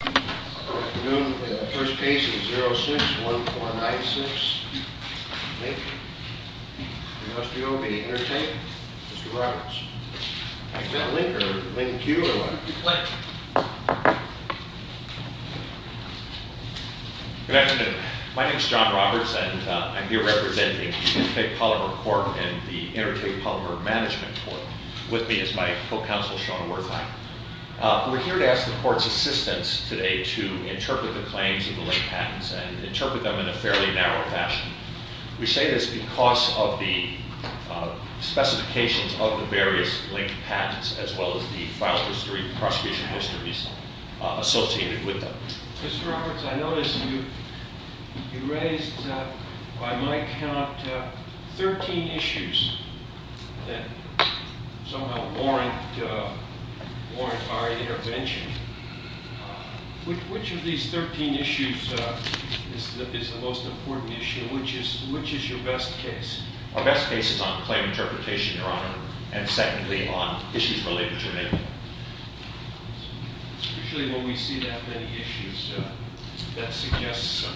Good afternoon. The first case is 06-1496, Link, v. Intertape. Mr. Roberts, is that Link or Link Q or what? Link. Good afternoon. My name is John Roberts and I'm here representing Intertape Polymer Corp. and the Intertape Polymer Management Corp. with me is my co-counsel Sean Wertheimer. We're here to ask the Court's assistance today to interpret the claims of the Link patents and interpret them in a fairly narrow fashion. We say this because of the specifications of the various Link patents as well as the file history and prosecution histories associated with them. Mr. Roberts, I noticed you raised, by my count, 13 issues that somehow warrant our intervention. Which of these 13 issues is the most important issue? Which is your best case? Our best case is on claim interpretation, Your Honor, and secondly, on issues related to Link. Usually when we see that many issues, that suggests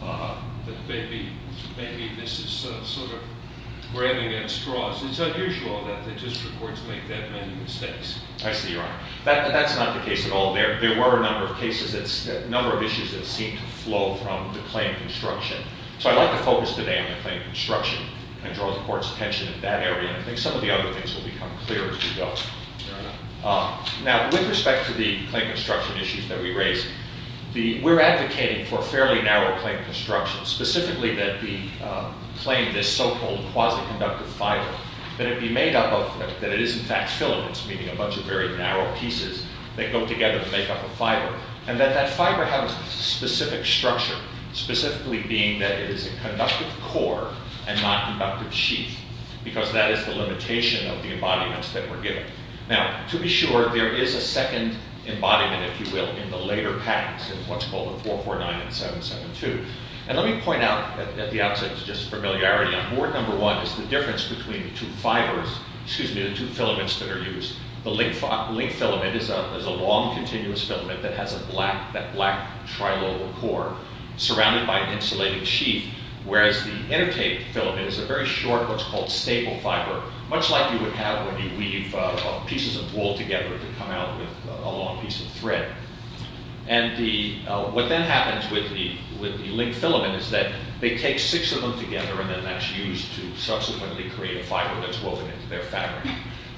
that maybe this is sort of grabbing at straws. It's unusual that the district courts make that many mistakes. I see, Your Honor. That's not the case at all. There were a number of cases, a number of issues that seemed to flow from the claim construction. So I'd like to focus today on the claim construction and draw the Court's attention in that area. I think some of the other things will become clear as we go. Now, with respect to the claim construction issues that we raised, we're advocating for fairly narrow claim construction. Specifically that the claim, this so-called quasi-conductive fiber, that it be made up of, that it is in fact filaments, meaning a bunch of very narrow pieces that go together to make up a fiber. And that that fiber has a specific structure, specifically being that it is a conductive core and not conductive sheath, because that is the limitation of the embodiments that we're giving. Now, to be sure, there is a second embodiment, if you will, in the later patents, in what's called the 449 and 772. And let me point out at the outset, just for familiarity, on Board Number 1 is the difference between the two fibers, excuse me, the two filaments that are used. The link filament is a long, continuous filament that has a black, that black trilobal core surrounded by an insulated sheath. Whereas the inner tape filament is a very short, what's called stable fiber, much like you would have when you weave pieces of wool together to come out with a long piece of thread. And what then happens with the link filament is that they take six of them together and then that's used to subsequently create a fiber that's woven into their fabric.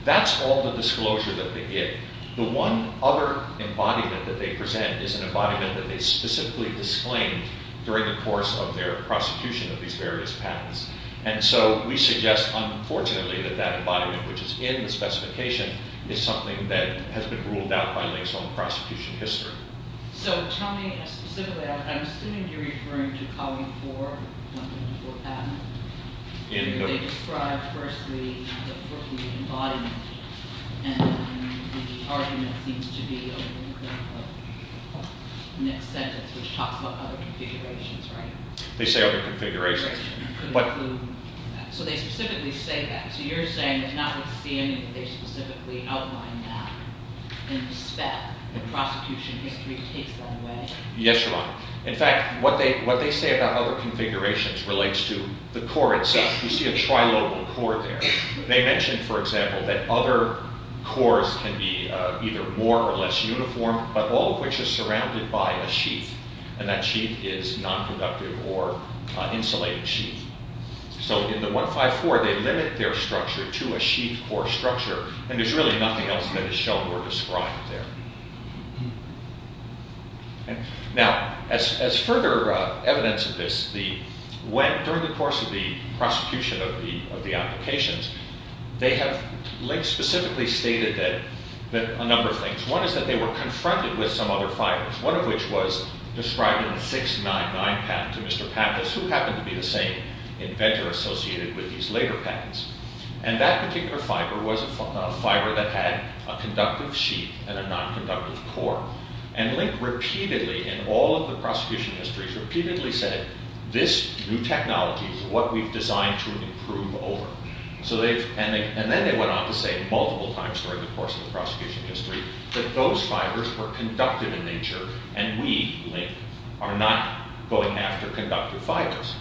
That's all the disclosure that they get. The one other embodiment that they present is an embodiment that they specifically disclaimed during the course of their prosecution of these various patents. And so we suggest, unfortunately, that that embodiment, which is in the specification, is something that has been ruled out by links on the prosecution history. So tell me specifically, I'm assuming you're referring to Column 4, 1.4 patent? In the- Where they describe, firstly, the Brooklyn embodiment. And the argument seems to be, in the next sentence, which talks about other configurations, right? They say other configurations. So they specifically say that. So you're saying it's not with Siemian that they specifically outlined that in the spec. The prosecution history dictates that way. Yes, Your Honor. In fact, what they say about other configurations relates to the core itself. You see a trilobal core there. They mention, for example, that other cores can be either more or less uniform, but all of which is surrounded by a sheath. And that sheath is non-conductive or insulated sheath. So in the 154, they limit their structure to a sheath core structure. And there's really nothing else that is shown or described there. Now, as further evidence of this, during the course of the prosecution of the applications, they have specifically stated a number of things. One is that they were confronted with some other fibers, one of which was described in the 699 patent to Mr. Pappas, who happened to be the same inventor associated with these later patents. And that particular fiber was a fiber that had a conductive sheath and a non-conductive core. And Link repeatedly, in all of the prosecution histories, repeatedly said, this new technology is what we've designed to improve over. And then they went on to say multiple times during the course of the prosecution history that those fibers were conductive in nature and we, Link, are not going after conductive fibers.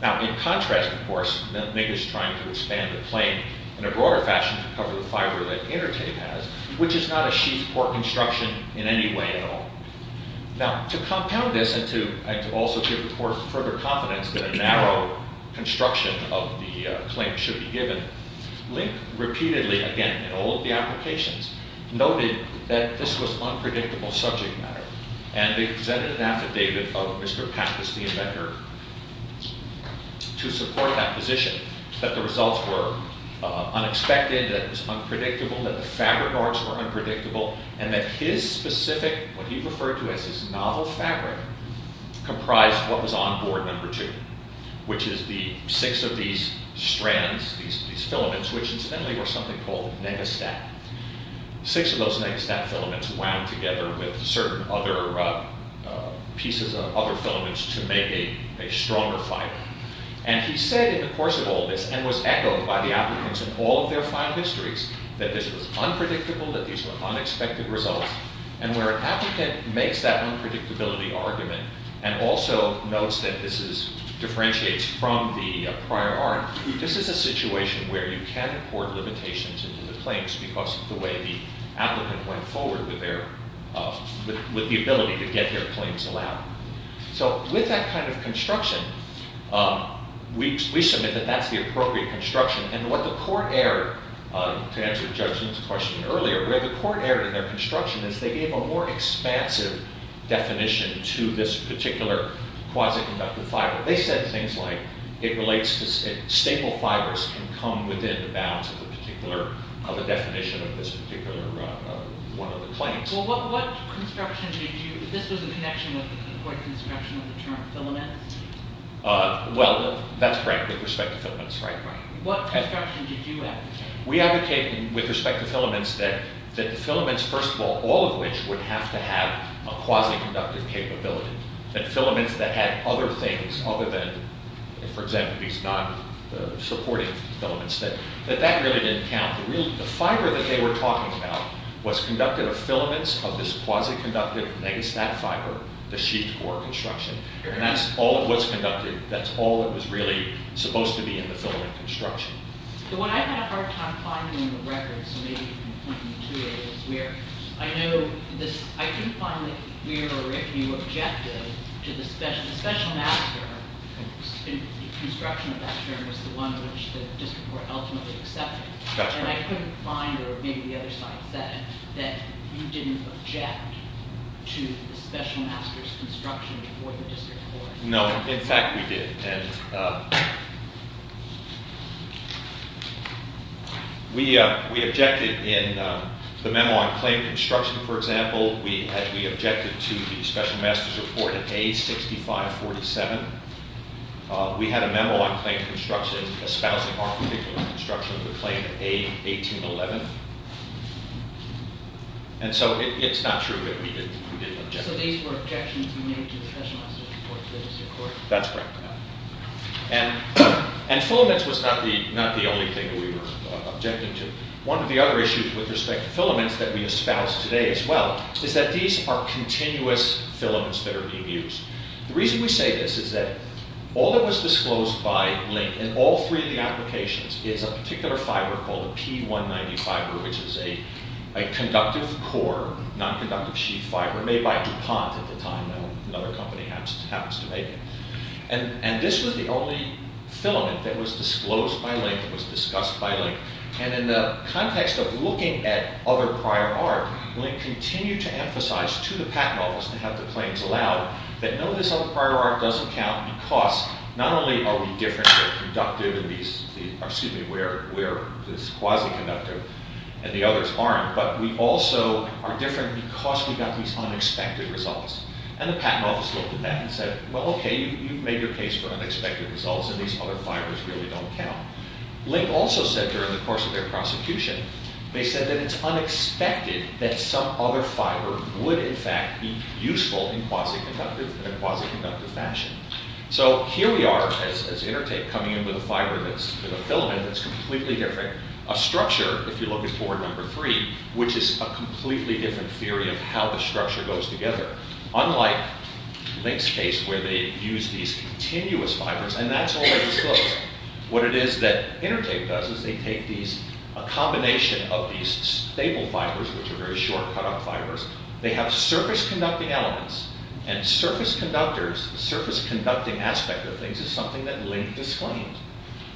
Now, in contrast, of course, Link is trying to expand the claim in a broader fashion to cover the fiber that Intertape has, which is not a sheath core construction in any way at all. Now, to compound this and to also give the court further confidence that a narrow construction of the claim should be given, Link repeatedly, again, in all of the applications, noted that this was unpredictable subject matter. And they presented an affidavit of Mr. Pappas, the inventor, to support that position, that the results were unexpected, that it was unpredictable, that the fabric arts were unpredictable, and that his specific, what he referred to as his novel fabric, comprised what was on board number two, which is the six of these strands, these filaments, which incidentally were something called negastat. Six of those negastat filaments wound together with certain other pieces of other filaments to make a stronger fiber. And he said in the course of all this, and was echoed by the applicants in all of their file histories, that this was unpredictable, that these were unexpected results, and where an applicant makes that unpredictability argument and also notes that this differentiates from the prior art, this is a situation where you can import limitations into the claims because of the way the applicant went forward with their, with the ability to get their claims allowed. So, with that kind of construction, we submit that that's the appropriate construction, and what the court erred, to answer Judgment's question earlier, where the court erred in their construction is they gave a more expansive definition to this particular quasi-conductive fiber. They said things like it relates to, staple fibers can come within the bounds of the particular, of the definition of this particular one of the claims. Well, what construction did you, this was in connection with the court's construction of the term filaments? Well, that's correct, with respect to filaments, right? Right. What construction did you advocate? We advocated, with respect to filaments, that the filaments, first of all, all of which would have to have a quasi-conductive capability, that filaments that had other things other than, for example, these non-supporting filaments, that that really didn't count. The fiber that they were talking about was conducted of filaments of this quasi-conductive negastat fiber, the sheet core construction, and that's all of what's conducted, that's all that was really supposed to be in the filament construction. What I had a hard time finding in the records, and maybe you can point me to it, is where I know, I didn't find that we were objective to the special master, the construction of that term was the one which the district court ultimately accepted. That's right. And I couldn't find, or maybe the other side said, that you didn't object to the special master's construction before the district court. No, in fact we did. We objected in the memo on claim construction, for example, we objected to the special master's report at A6547. We had a memo on claim construction espousing our particular construction of the claim at A1811. And so it's not true that we didn't object. So these were objections made to the special master's report to the district court. That's right. And filaments was not the only thing that we were objecting to. One of the other issues with respect to filaments that we espouse today as well, is that these are continuous filaments that are being used. The reason we say this is that all that was disclosed by Link, in all three of the applications, is a particular fiber called a P190 fiber, which is a conductive core, non-conductive sheath fiber made by DuPont at the time, though another company happens to make it. And this was the only filament that was disclosed by Link, that was discussed by Link. And in the context of looking at other prior art, Link continued to emphasize to the patent office to have the claims allowed, that no, this other prior art doesn't count, because not only are we different where the quasi-conductive and the others aren't, but we also are different because we got these unexpected results. And the patent office looked at that and said, well, okay, you've made your case for unexpected results, and these other fibers really don't count. Link also said during the course of their prosecution, in a quasi-conductive fashion. So here we are, as Intertape, coming in with a filament that's completely different. A structure, if you look at board number three, which is a completely different theory of how the structure goes together. Unlike Link's case, where they use these continuous fibers, and that's all that was disclosed. What it is that Intertape does is they take a combination of these stable fibers, which are very short, cut-off fibers, they have surface-conducting elements, and surface conductors, the surface-conducting aspect of things, is something that Link disclaimed.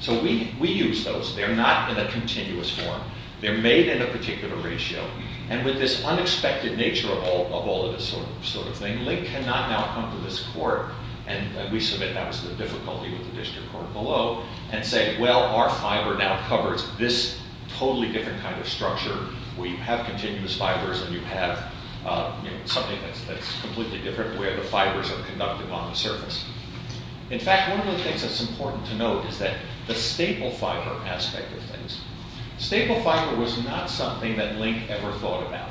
So we use those. They're not in a continuous form. They're made in a particular ratio. And with this unexpected nature of all of this sort of thing, Link cannot now come to this court, and we submit that was the difficulty with the district court below, and say, well, our fiber now covers this totally different kind of structure, where you have continuous fibers, and you have something that's completely different, where the fibers are conductive on the surface. In fact, one of the things that's important to note is that the stable fiber aspect of things. Stable fiber was not something that Link ever thought about.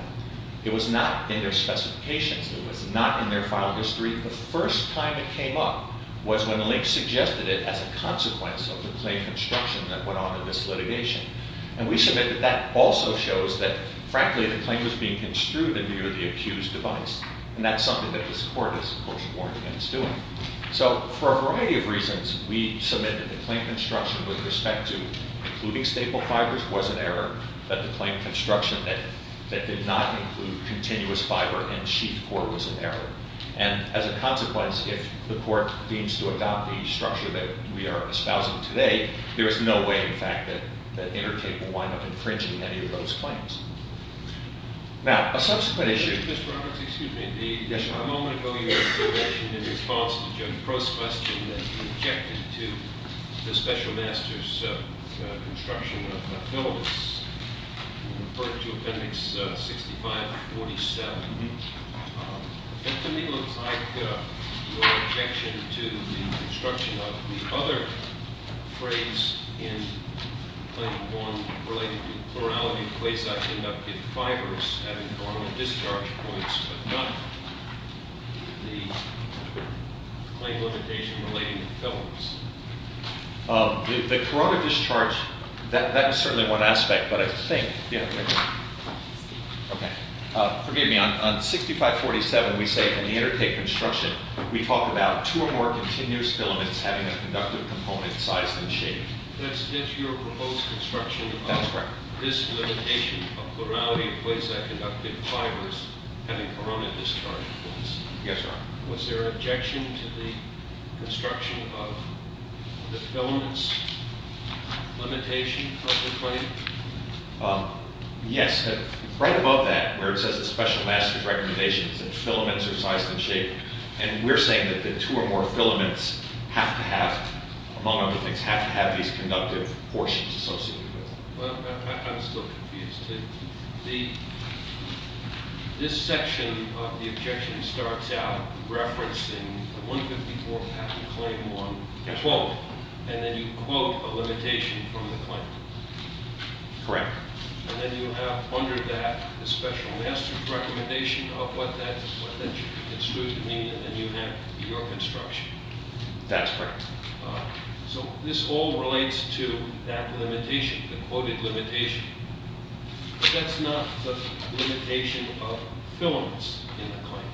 It was not in their specifications. It was not in their file history. The first time it came up was when Link suggested it as a consequence of the Clay construction that went on in this litigation. And we submit that that also shows that, frankly, the claim was being construed in view of the accused device, and that's something that this court is, of course, warned against doing. So for a variety of reasons, we submit that the Clay construction with respect to including stable fibers was an error, that the Clay construction that did not include continuous fiber in the chief court was an error. And as a consequence, if the court deems to adopt the structure that we are espousing today, there is no way, in fact, that Intertate will wind up infringing any of those claims. Now, a subsequent issue... Mr. Roberts, excuse me. Yes, sir. A moment ago, you made a statement in response to Judge Prost's question that you objected to the special master's construction of filaments. You referred to Appendix 65-47. That to me looks like your objection to the construction of the other phrase in Claim 1 related to plurality of clays that end up in fibers having normal discharge points, but not the Clay limitation relating to filaments. The corroded discharge, that is certainly one aspect, but I think... Forgive me. On 65-47, we say in the Intertate construction, we talk about two or more continuous filaments having a conductive component size and shape. That's your proposed construction? That's correct. This limitation of plurality of clays that end up in fibers having corona discharge points. Yes, sir. Was there an objection to the construction of the filaments limitation of the claim? Yes. Right above that, where it says the special master's recommendation is that filaments are sized and shaped, and we're saying that the two or more filaments have to have, among other things, have to have these conductive portions associated with them. I'm still confused. This section of the objection starts out referencing 154 patent Claim 1, quote, and then you quote a limitation from the claim. Correct. And then you have under that the special master's recommendation of what that should mean, and then you have your construction. That's correct. So this all relates to that limitation, the quoted limitation. That's not the limitation of filaments in the claim.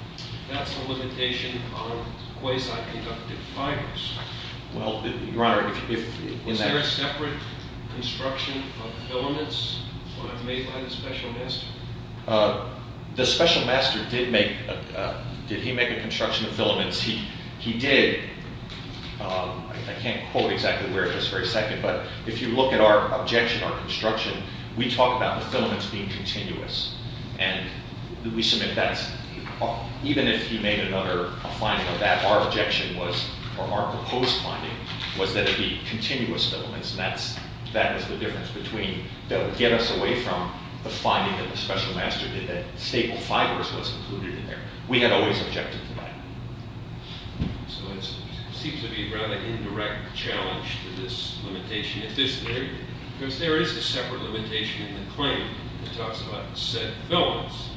That's the limitation on quasi-conductive fibers. Well, Your Honor, if in that— Was there a separate construction of filaments when it was made by the special master? The special master did make—did he make a construction of filaments? He did. I can't quote exactly where at this very second, but if you look at our objection, our construction, we talk about the filaments being continuous, and we submit that's— even if he made another—a finding of that, our objection was, or our proposed finding, was that it be continuous filaments, and that's—that was the difference between— that would get us away from the finding that the special master did that staple fibers was included in there. We had always objected to that. So it seems to be a rather indirect challenge to this limitation of this theory, because there is a separate limitation in the claim that talks about set filaments,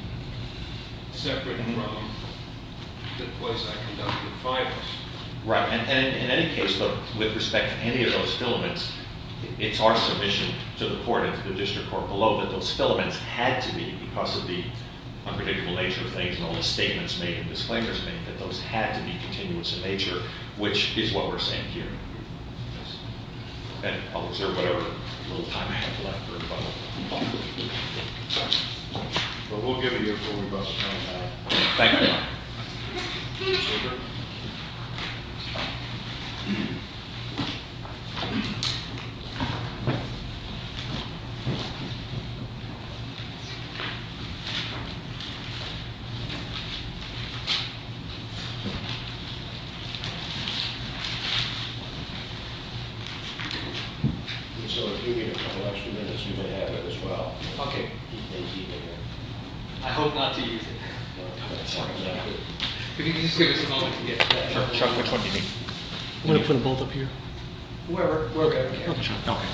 separate from the quasi-conductive fibers. Right, and in any case, with respect to any of those filaments, it's our submission to the court and to the district court below that those filaments had to be, because of the unpredictable nature of things and all the statements made and disclaimers made, that those had to be continuous in nature, which is what we're saying here. Yes. And I'll observe whatever little time I have left for a follow-up. Well, we'll give it to you before we go. Thank you. Thank you. Thank you. So if you need a couple extra minutes, you may have it as well. Okay. I hope not to use it. If you could just give us a moment to get— Chuck, which one do you need? I'm going to put them both up here. Wherever. Okay. Okay.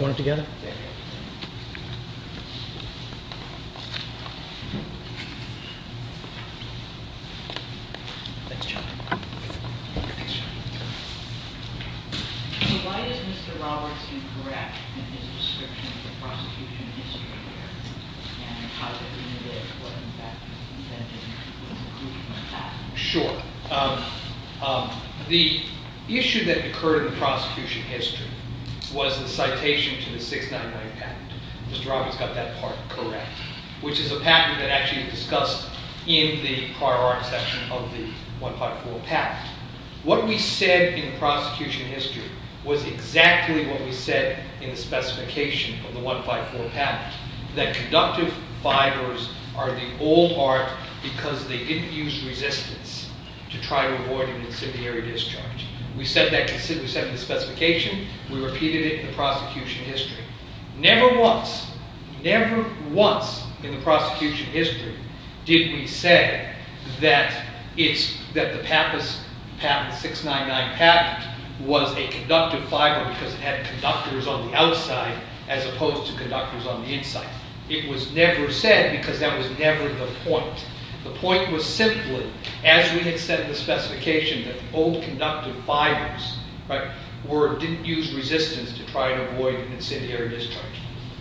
Want it together? Thanks, Chuck. Thanks, Chuck. So why is Mr. Roberts incorrect in his description of the prosecution history here? And how does it relate to what, in fact, he's intending to prove in the past? Sure. The issue that occurred in the prosecution history was the citation to the 699 patent. Mr. Roberts got that part correct, which is a patent that actually is discussed in the prior art section of the 154 patent. What we said in the prosecution history was exactly what we said in the specification of the 154 patent, that conductive fibers are the old art because they didn't use resistance to try to avoid an incendiary discharge. We said that in the specification. We repeated it in the prosecution history. Never once, never once in the prosecution history did we say that the 699 patent was a conductive fiber because it had conductors on the outside as opposed to conductors on the inside. It was never said because that was never the point. The point was simply, as we had said in the specification, that old conductive fibers didn't use resistance to try to avoid an incendiary discharge.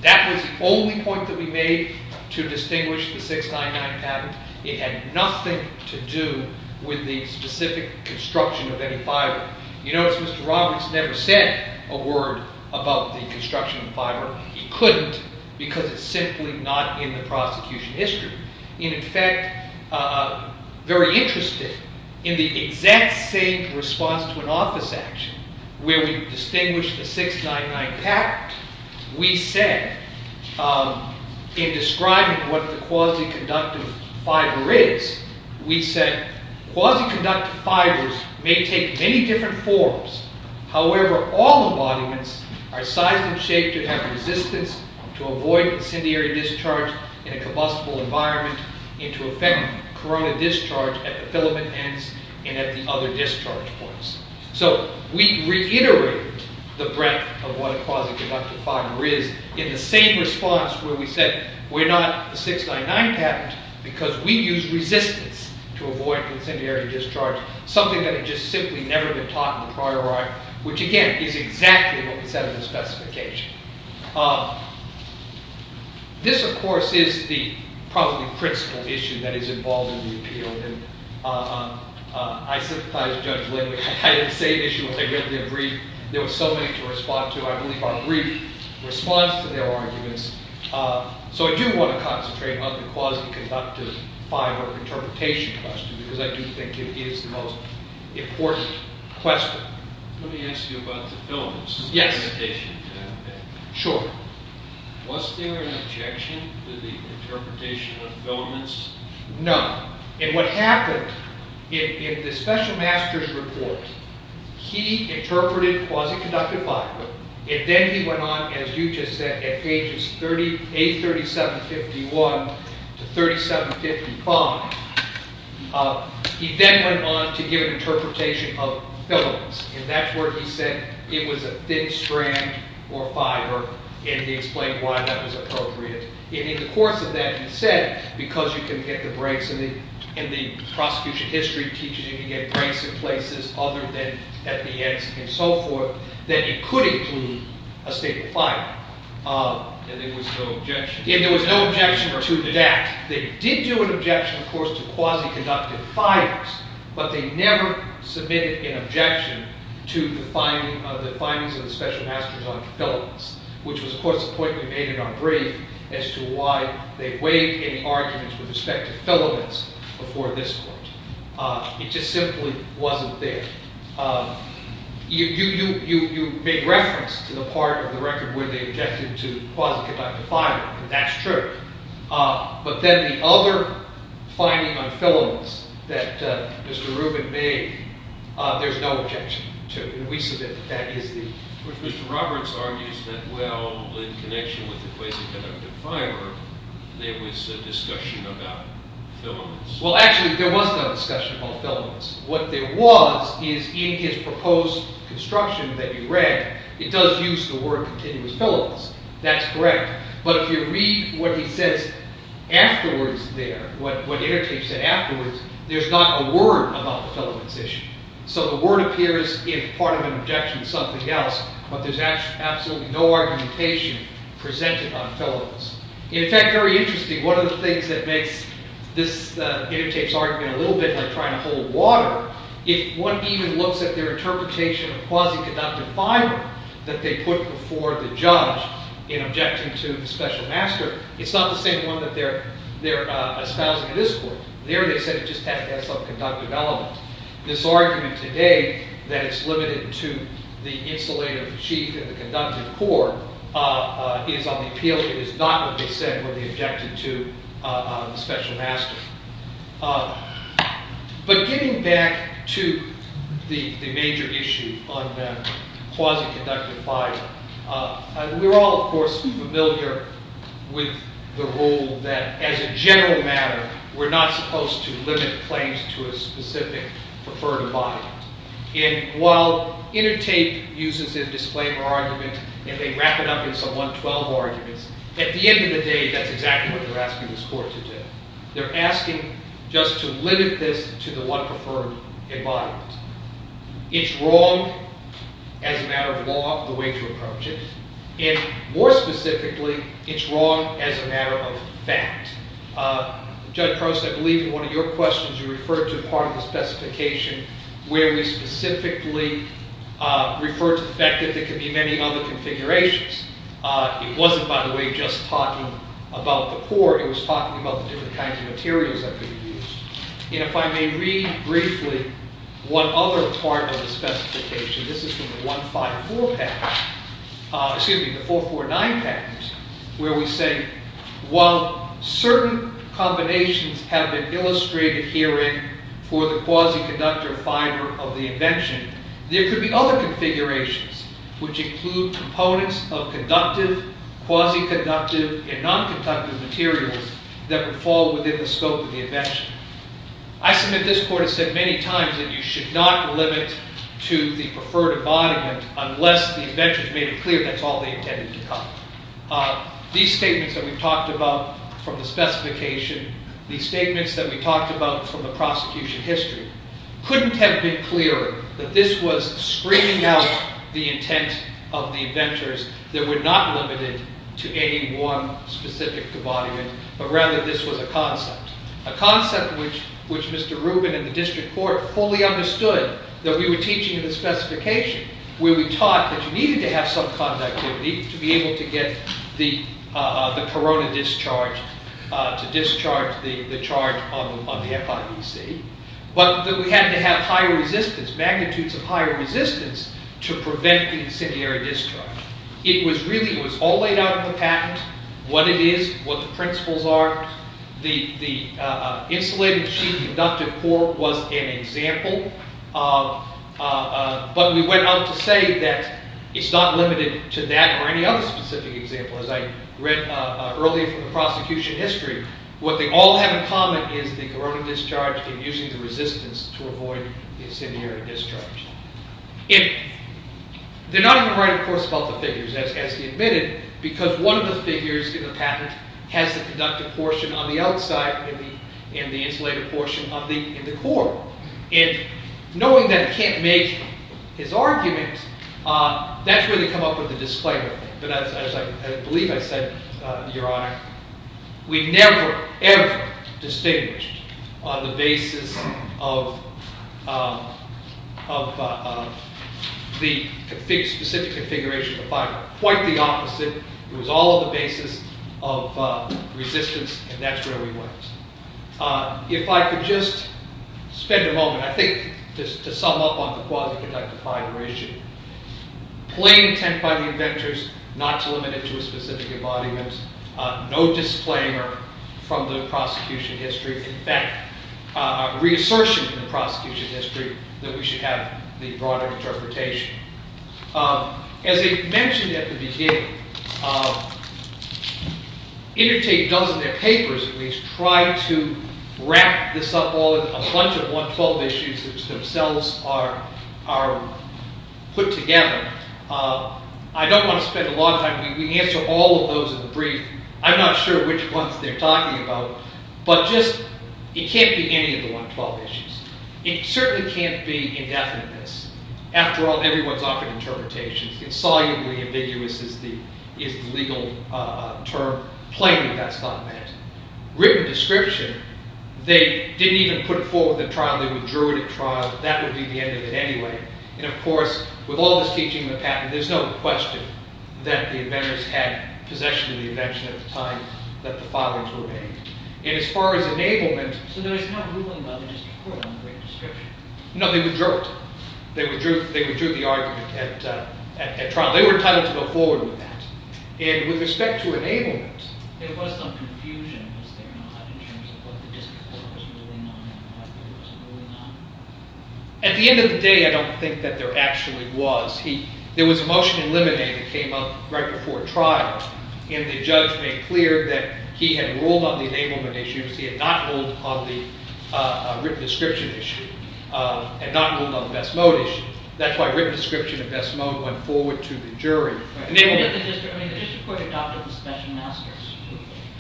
That was the only point that we made to distinguish the 699 patent. It had nothing to do with the specific construction of any fiber. You notice Mr. Roberts never said a word about the construction of fiber. He couldn't because it's simply not in the prosecution history. In effect, very interested in the exact same response to an office action where we distinguished the 699 patent, we said in describing what the quasi-conductive fiber is, we said quasi-conductive fibers may take many different forms. However, all embodiments are sized and shaped to have resistance to avoid incendiary discharge in a combustible environment and to affect corona discharge at the filament ends and at the other discharge points. So we reiterated the breadth of what a quasi-conductive fiber is in the same response where we said we're not a 699 patent because we use resistance to avoid incendiary discharge. Something that had just simply never been taught in the prior article, which again, is exactly what we said in the specification. This, of course, is the probably principal issue that is involved in the appeal. And I sympathize with Judge Lindley. I had the same issue when they read their brief. There were so many to respond to. I believe our brief responds to their arguments. So I do want to concentrate on the quasi-conductive fiber interpretation question because I do think it is the most important question. Let me ask you about the filaments. Yes. Was there an objection to the interpretation of filaments? No. And what happened in the special master's report, he interpreted quasi-conductive fiber. And then he went on, as you just said, at pages 837-51 to 3755. He then went on to give an interpretation of filaments. And that's where he said it was a thin strand or fiber. And he explained why that was appropriate. And in the course of that, he said, because you can get the breaks in the prosecution history teaching, you can get breaks in places other than at the end and so forth, that it could include a state of fire. And there was no objection? And there was no objection to that. They did do an objection, of course, to quasi-conductive fibers. But they never submitted an objection to the findings of the special master's on filaments, which was, of course, the point we made in our brief. As to why they weighed any arguments with respect to filaments before this point. It just simply wasn't there. You made reference to the part of the record where they objected to quasi-conductive fiber. That's true. But then the other finding on filaments that Mr. Rubin made, there's no objection to. And we submit that that is the case. But Mr. Roberts argues that, well, in connection with the quasi-conductive fiber, there was a discussion about filaments. Well, actually, there was no discussion about filaments. What there was is in his proposed construction that you read, it does use the word continuous filaments. That's correct. But if you read what he says afterwards there, what Ayrton said afterwards, there's not a word about the filaments issue. So the word appears if part of an objection is something else. But there's absolutely no argumentation presented on filaments. In fact, very interesting, one of the things that makes this intertapes argument a little bit like trying to hold water, if one even looks at their interpretation of quasi-conductive fiber that they put before the judge in objection to the special master, it's not the same one that they're espousing in this court. There they said it just has to have some conductive element. This argument today that it's limited to the insulative chief and the conductive court is on the appeal. It is not what they said when they objected to the special master. But getting back to the major issue on quasi-conductive fiber, we're all, of course, familiar with the rule that, as a general matter, we're not supposed to limit claims to a specific preferred environment. And while intertape uses a disclaimer argument and they wrap it up in some 112 arguments, at the end of the day, that's exactly what they're asking this court to do. They're asking just to limit this to the one preferred environment. It's wrong as a matter of law, the way to approach it. And more specifically, it's wrong as a matter of fact. Judge Prost, I believe in one of your questions you referred to part of the specification where we specifically referred to the fact that there could be many other configurations. It wasn't, by the way, just talking about the court. It was talking about the different kinds of materials that could be used. And if I may read briefly one other part of the specification, this is from the 154 package, excuse me, the 449 package, where we say, while certain combinations have been illustrated herein for the quasi-conductor fiber of the invention, there could be other configurations which include components of conductive, quasi-conductive, and non-conductive materials that would fall within the scope of the invention. I submit this court has said many times that you should not limit to the preferred embodiment unless the inventors made it clear that's all they intended to cover. These statements that we've talked about from the specification, these statements that we've talked about from the prosecution history, couldn't have been clearer that this was screaming out the intent of the inventors that we're not limited to any one specific embodiment, but rather this was a concept, a concept which Mr. Rubin and the district court fully understood that we were teaching in the specification, where we taught that you needed to have some conductivity to be able to get the corona discharged, to discharge the charge on the FIDC, but that we had to have higher resistance, magnitudes of higher resistance to prevent the incendiary discharge. It was really, it was all laid out in the patent, what it is, what the principles are. The insulated sheet of conductive core was an example, but we went on to say that it's not limited to that or any other specific example. As I read earlier from the prosecution history, what they all have in common is the corona discharge and using the resistance to avoid the incendiary discharge. They're not even right, of course, about the figures, as he admitted, because one of the figures in the patent has the conductive portion on the outside and the insulated portion in the core. And knowing that I can't make his argument, that's where they come up with the disclaimer. But as I believe I said, Your Honor, we never ever distinguished on the basis of the specific configuration of the fiber. Quite the opposite. It was all on the basis of resistance and that's where we went. If I could just spend a moment, I think just to sum up on the quasi-conductive fiber issue, plain intent by the inventors not to limit it to a specific embodiment, no disclaimer from the prosecution history. In fact, reassertion from the prosecution history that we should have the broader interpretation. As I mentioned at the beginning, Intertate does in their papers, at least, try to wrap this up all in a bunch of 112 issues which themselves are put together. I don't want to spend a lot of time. We can answer all of those in the brief. I'm not sure which ones they're talking about. But just, it can't be any of the 112 issues. It certainly can't be indefiniteness. After all, everyone's offered interpretations. Insolubly ambiguous is the legal term. Plainly, that's not meant. Written description, they didn't even put forward the trial. They withdrew it at trial. That would be the end of it anyway. And of course, with all this teaching of the patent, there's no question that the inventors had possession of the invention at the time that the filings were made. And as far as enablement... So they're not ruling by the district court on the written description? No, they withdrew it. They withdrew the argument at trial. They were entitled to go forward with that. And with respect to enablement... There was some confusion, was there not, in terms of what the district court was ruling on and what it was ruling on? At the end of the day, I don't think that there actually was. There was a motion in Limine that came up right before trial, and the judge made clear that he had ruled on the enablement issues. He had not ruled on the written description issue. He had not ruled on the best mode issue. That's why written description and best mode went forward to the jury. But the district court adopted the special master's...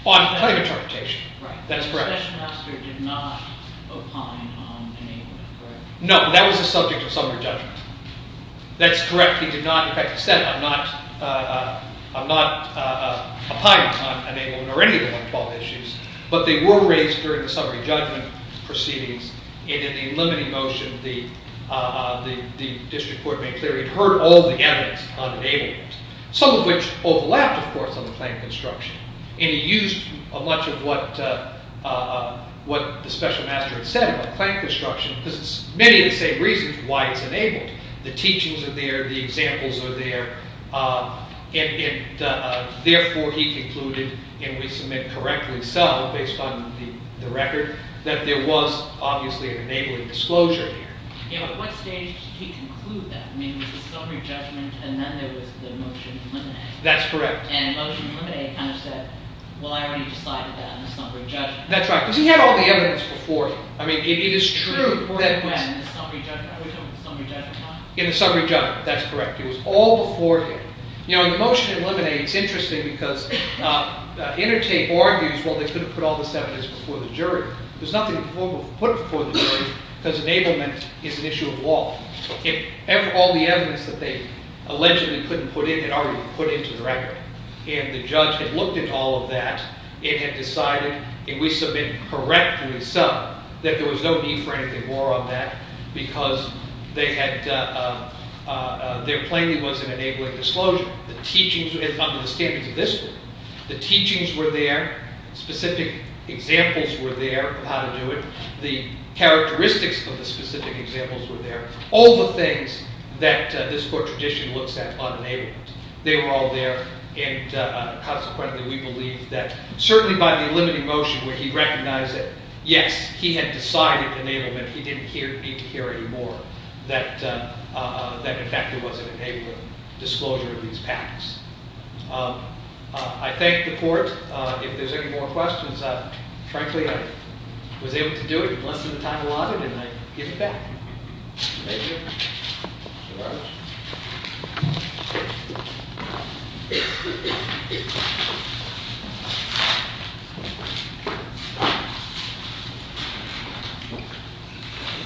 On claim interpretation. Right. That's correct. The special master did not opine on enablement, correct? No, that was the subject of summary judgment. That's correct. He did not... In fact, he said, I'm not opining on enablement or any of the 112 issues, but they were raised during the summary judgment proceedings, and in the Limine motion, the district court made clear he'd heard all the evidence on enablement, some of which overlapped, of course, on the claim construction. And he used much of what the special master had said about claim construction, because it's many of the same reasons why it's enabled. The teachings are there, the examples are there, and therefore he concluded, and we submit correctly so, based on the record, that there was obviously an enabling disclosure there. Yeah, but at what stage did he conclude that? I mean, it was the summary judgment, and then there was the motion to eliminate. That's correct. And the motion to eliminate kind of said, well, I already decided that in the summary judgment. That's right, because he had all the evidence before him. I mean, it is true that... Before he met in the summary judgment. Are we talking summary judgment time? In the summary judgment. That's correct. It was all before him. You know, the motion to eliminate is interesting because Intertape argues, well, they could have put all this evidence before the jury. There's nothing before the jury because enablement is an issue of law. All the evidence that they allegedly couldn't put in had already been put into the record, and the judge had looked at all of that and had decided, and we submit correctly so, that there was no need for anything more on that because they had... Their plaintiff was in enabling disclosure. The teachings under the standards of this court, the teachings were there. Specific examples were there of how to do it. The characteristics of the specific examples were there. All the things that this court tradition looks at on enablement, they were all there, and consequently, we believe that, certainly by the limiting motion, when he recognized that, yes, he had decided enablement, he didn't need to hear any more, that, in fact, there was an enablement disclosure of these pacts. I thank the court. If there's any more questions, frankly, I was able to do it in less than the time allotted, and I give it back. Thank you.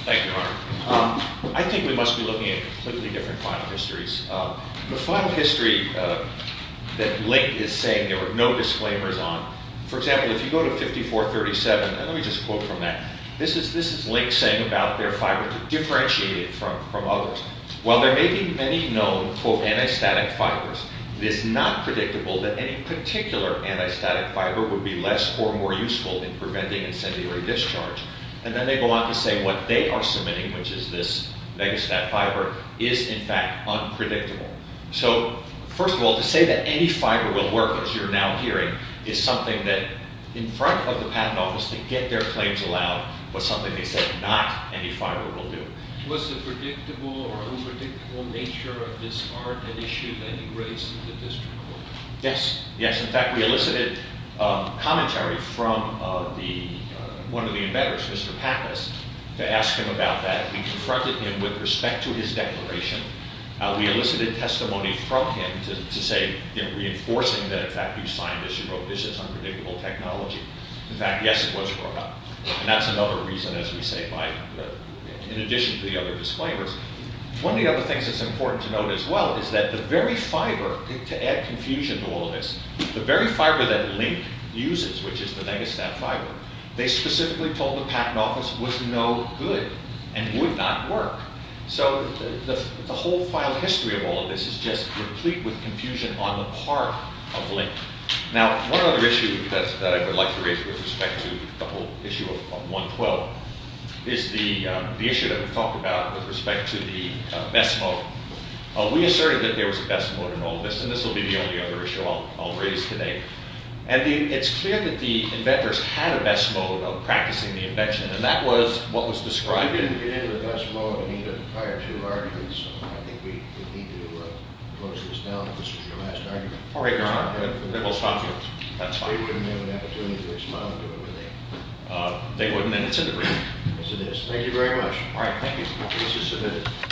Thank you, Your Honor. I think we must be looking at completely different final histories. The final history that Link is saying there were no disclaimers on, for example, if you go to 5437, and let me just quote from that, this is Link saying about their fiber to differentiate it from others. While there may be many known, quote, anti-static fibers, it is not predictable that any particular anti-static fiber would be less or more useful in preventing incendiary discharge. And then they go on to say what they are submitting, which is this mega-stat fiber, is, in fact, unpredictable. So, first of all, to say that any fiber will work, as you're now hearing, is something that, in front of the patent office, to get their claims allowed, was something they said not any fiber will do. Was the predictable or unpredictable nature of this art an issue that you raised in the district court? Yes. Yes. In fact, we elicited commentary from one of the embedders, Mr. Pappas, to ask him about that. We confronted him with respect to his declaration. We elicited testimony from him to say, reinforcing the fact that you signed this, you wrote this is unpredictable technology. In fact, yes, it was brought up. And that's another reason, as we say, in addition to the other disclaimers. One of the other things that's important to note as well is that the very fiber, to add confusion to all of this, the very fiber that Link uses, which is the Megastat fiber, they specifically told the patent office was no good and would not work. So, the whole file history of all of this is just replete with confusion on the part of Link. Now, one other issue that I would like to raise with respect to the whole issue of 112 is the issue that we talked about with respect to the Bessimo. We asserted that there was a Bessimo in all of this, and this will be the only other issue I'll raise today. And it's clear that the inventors had a Bessimo about practicing the invention, and that was what was described in... We didn't get into the Bessimo in either of the prior two arguments, so I think we need to close this down if this was your last argument. They wouldn't have an opportunity to respond to it, would they? They wouldn't, and it's in the brief. Yes, it is. Thank you very much. All right, thank you.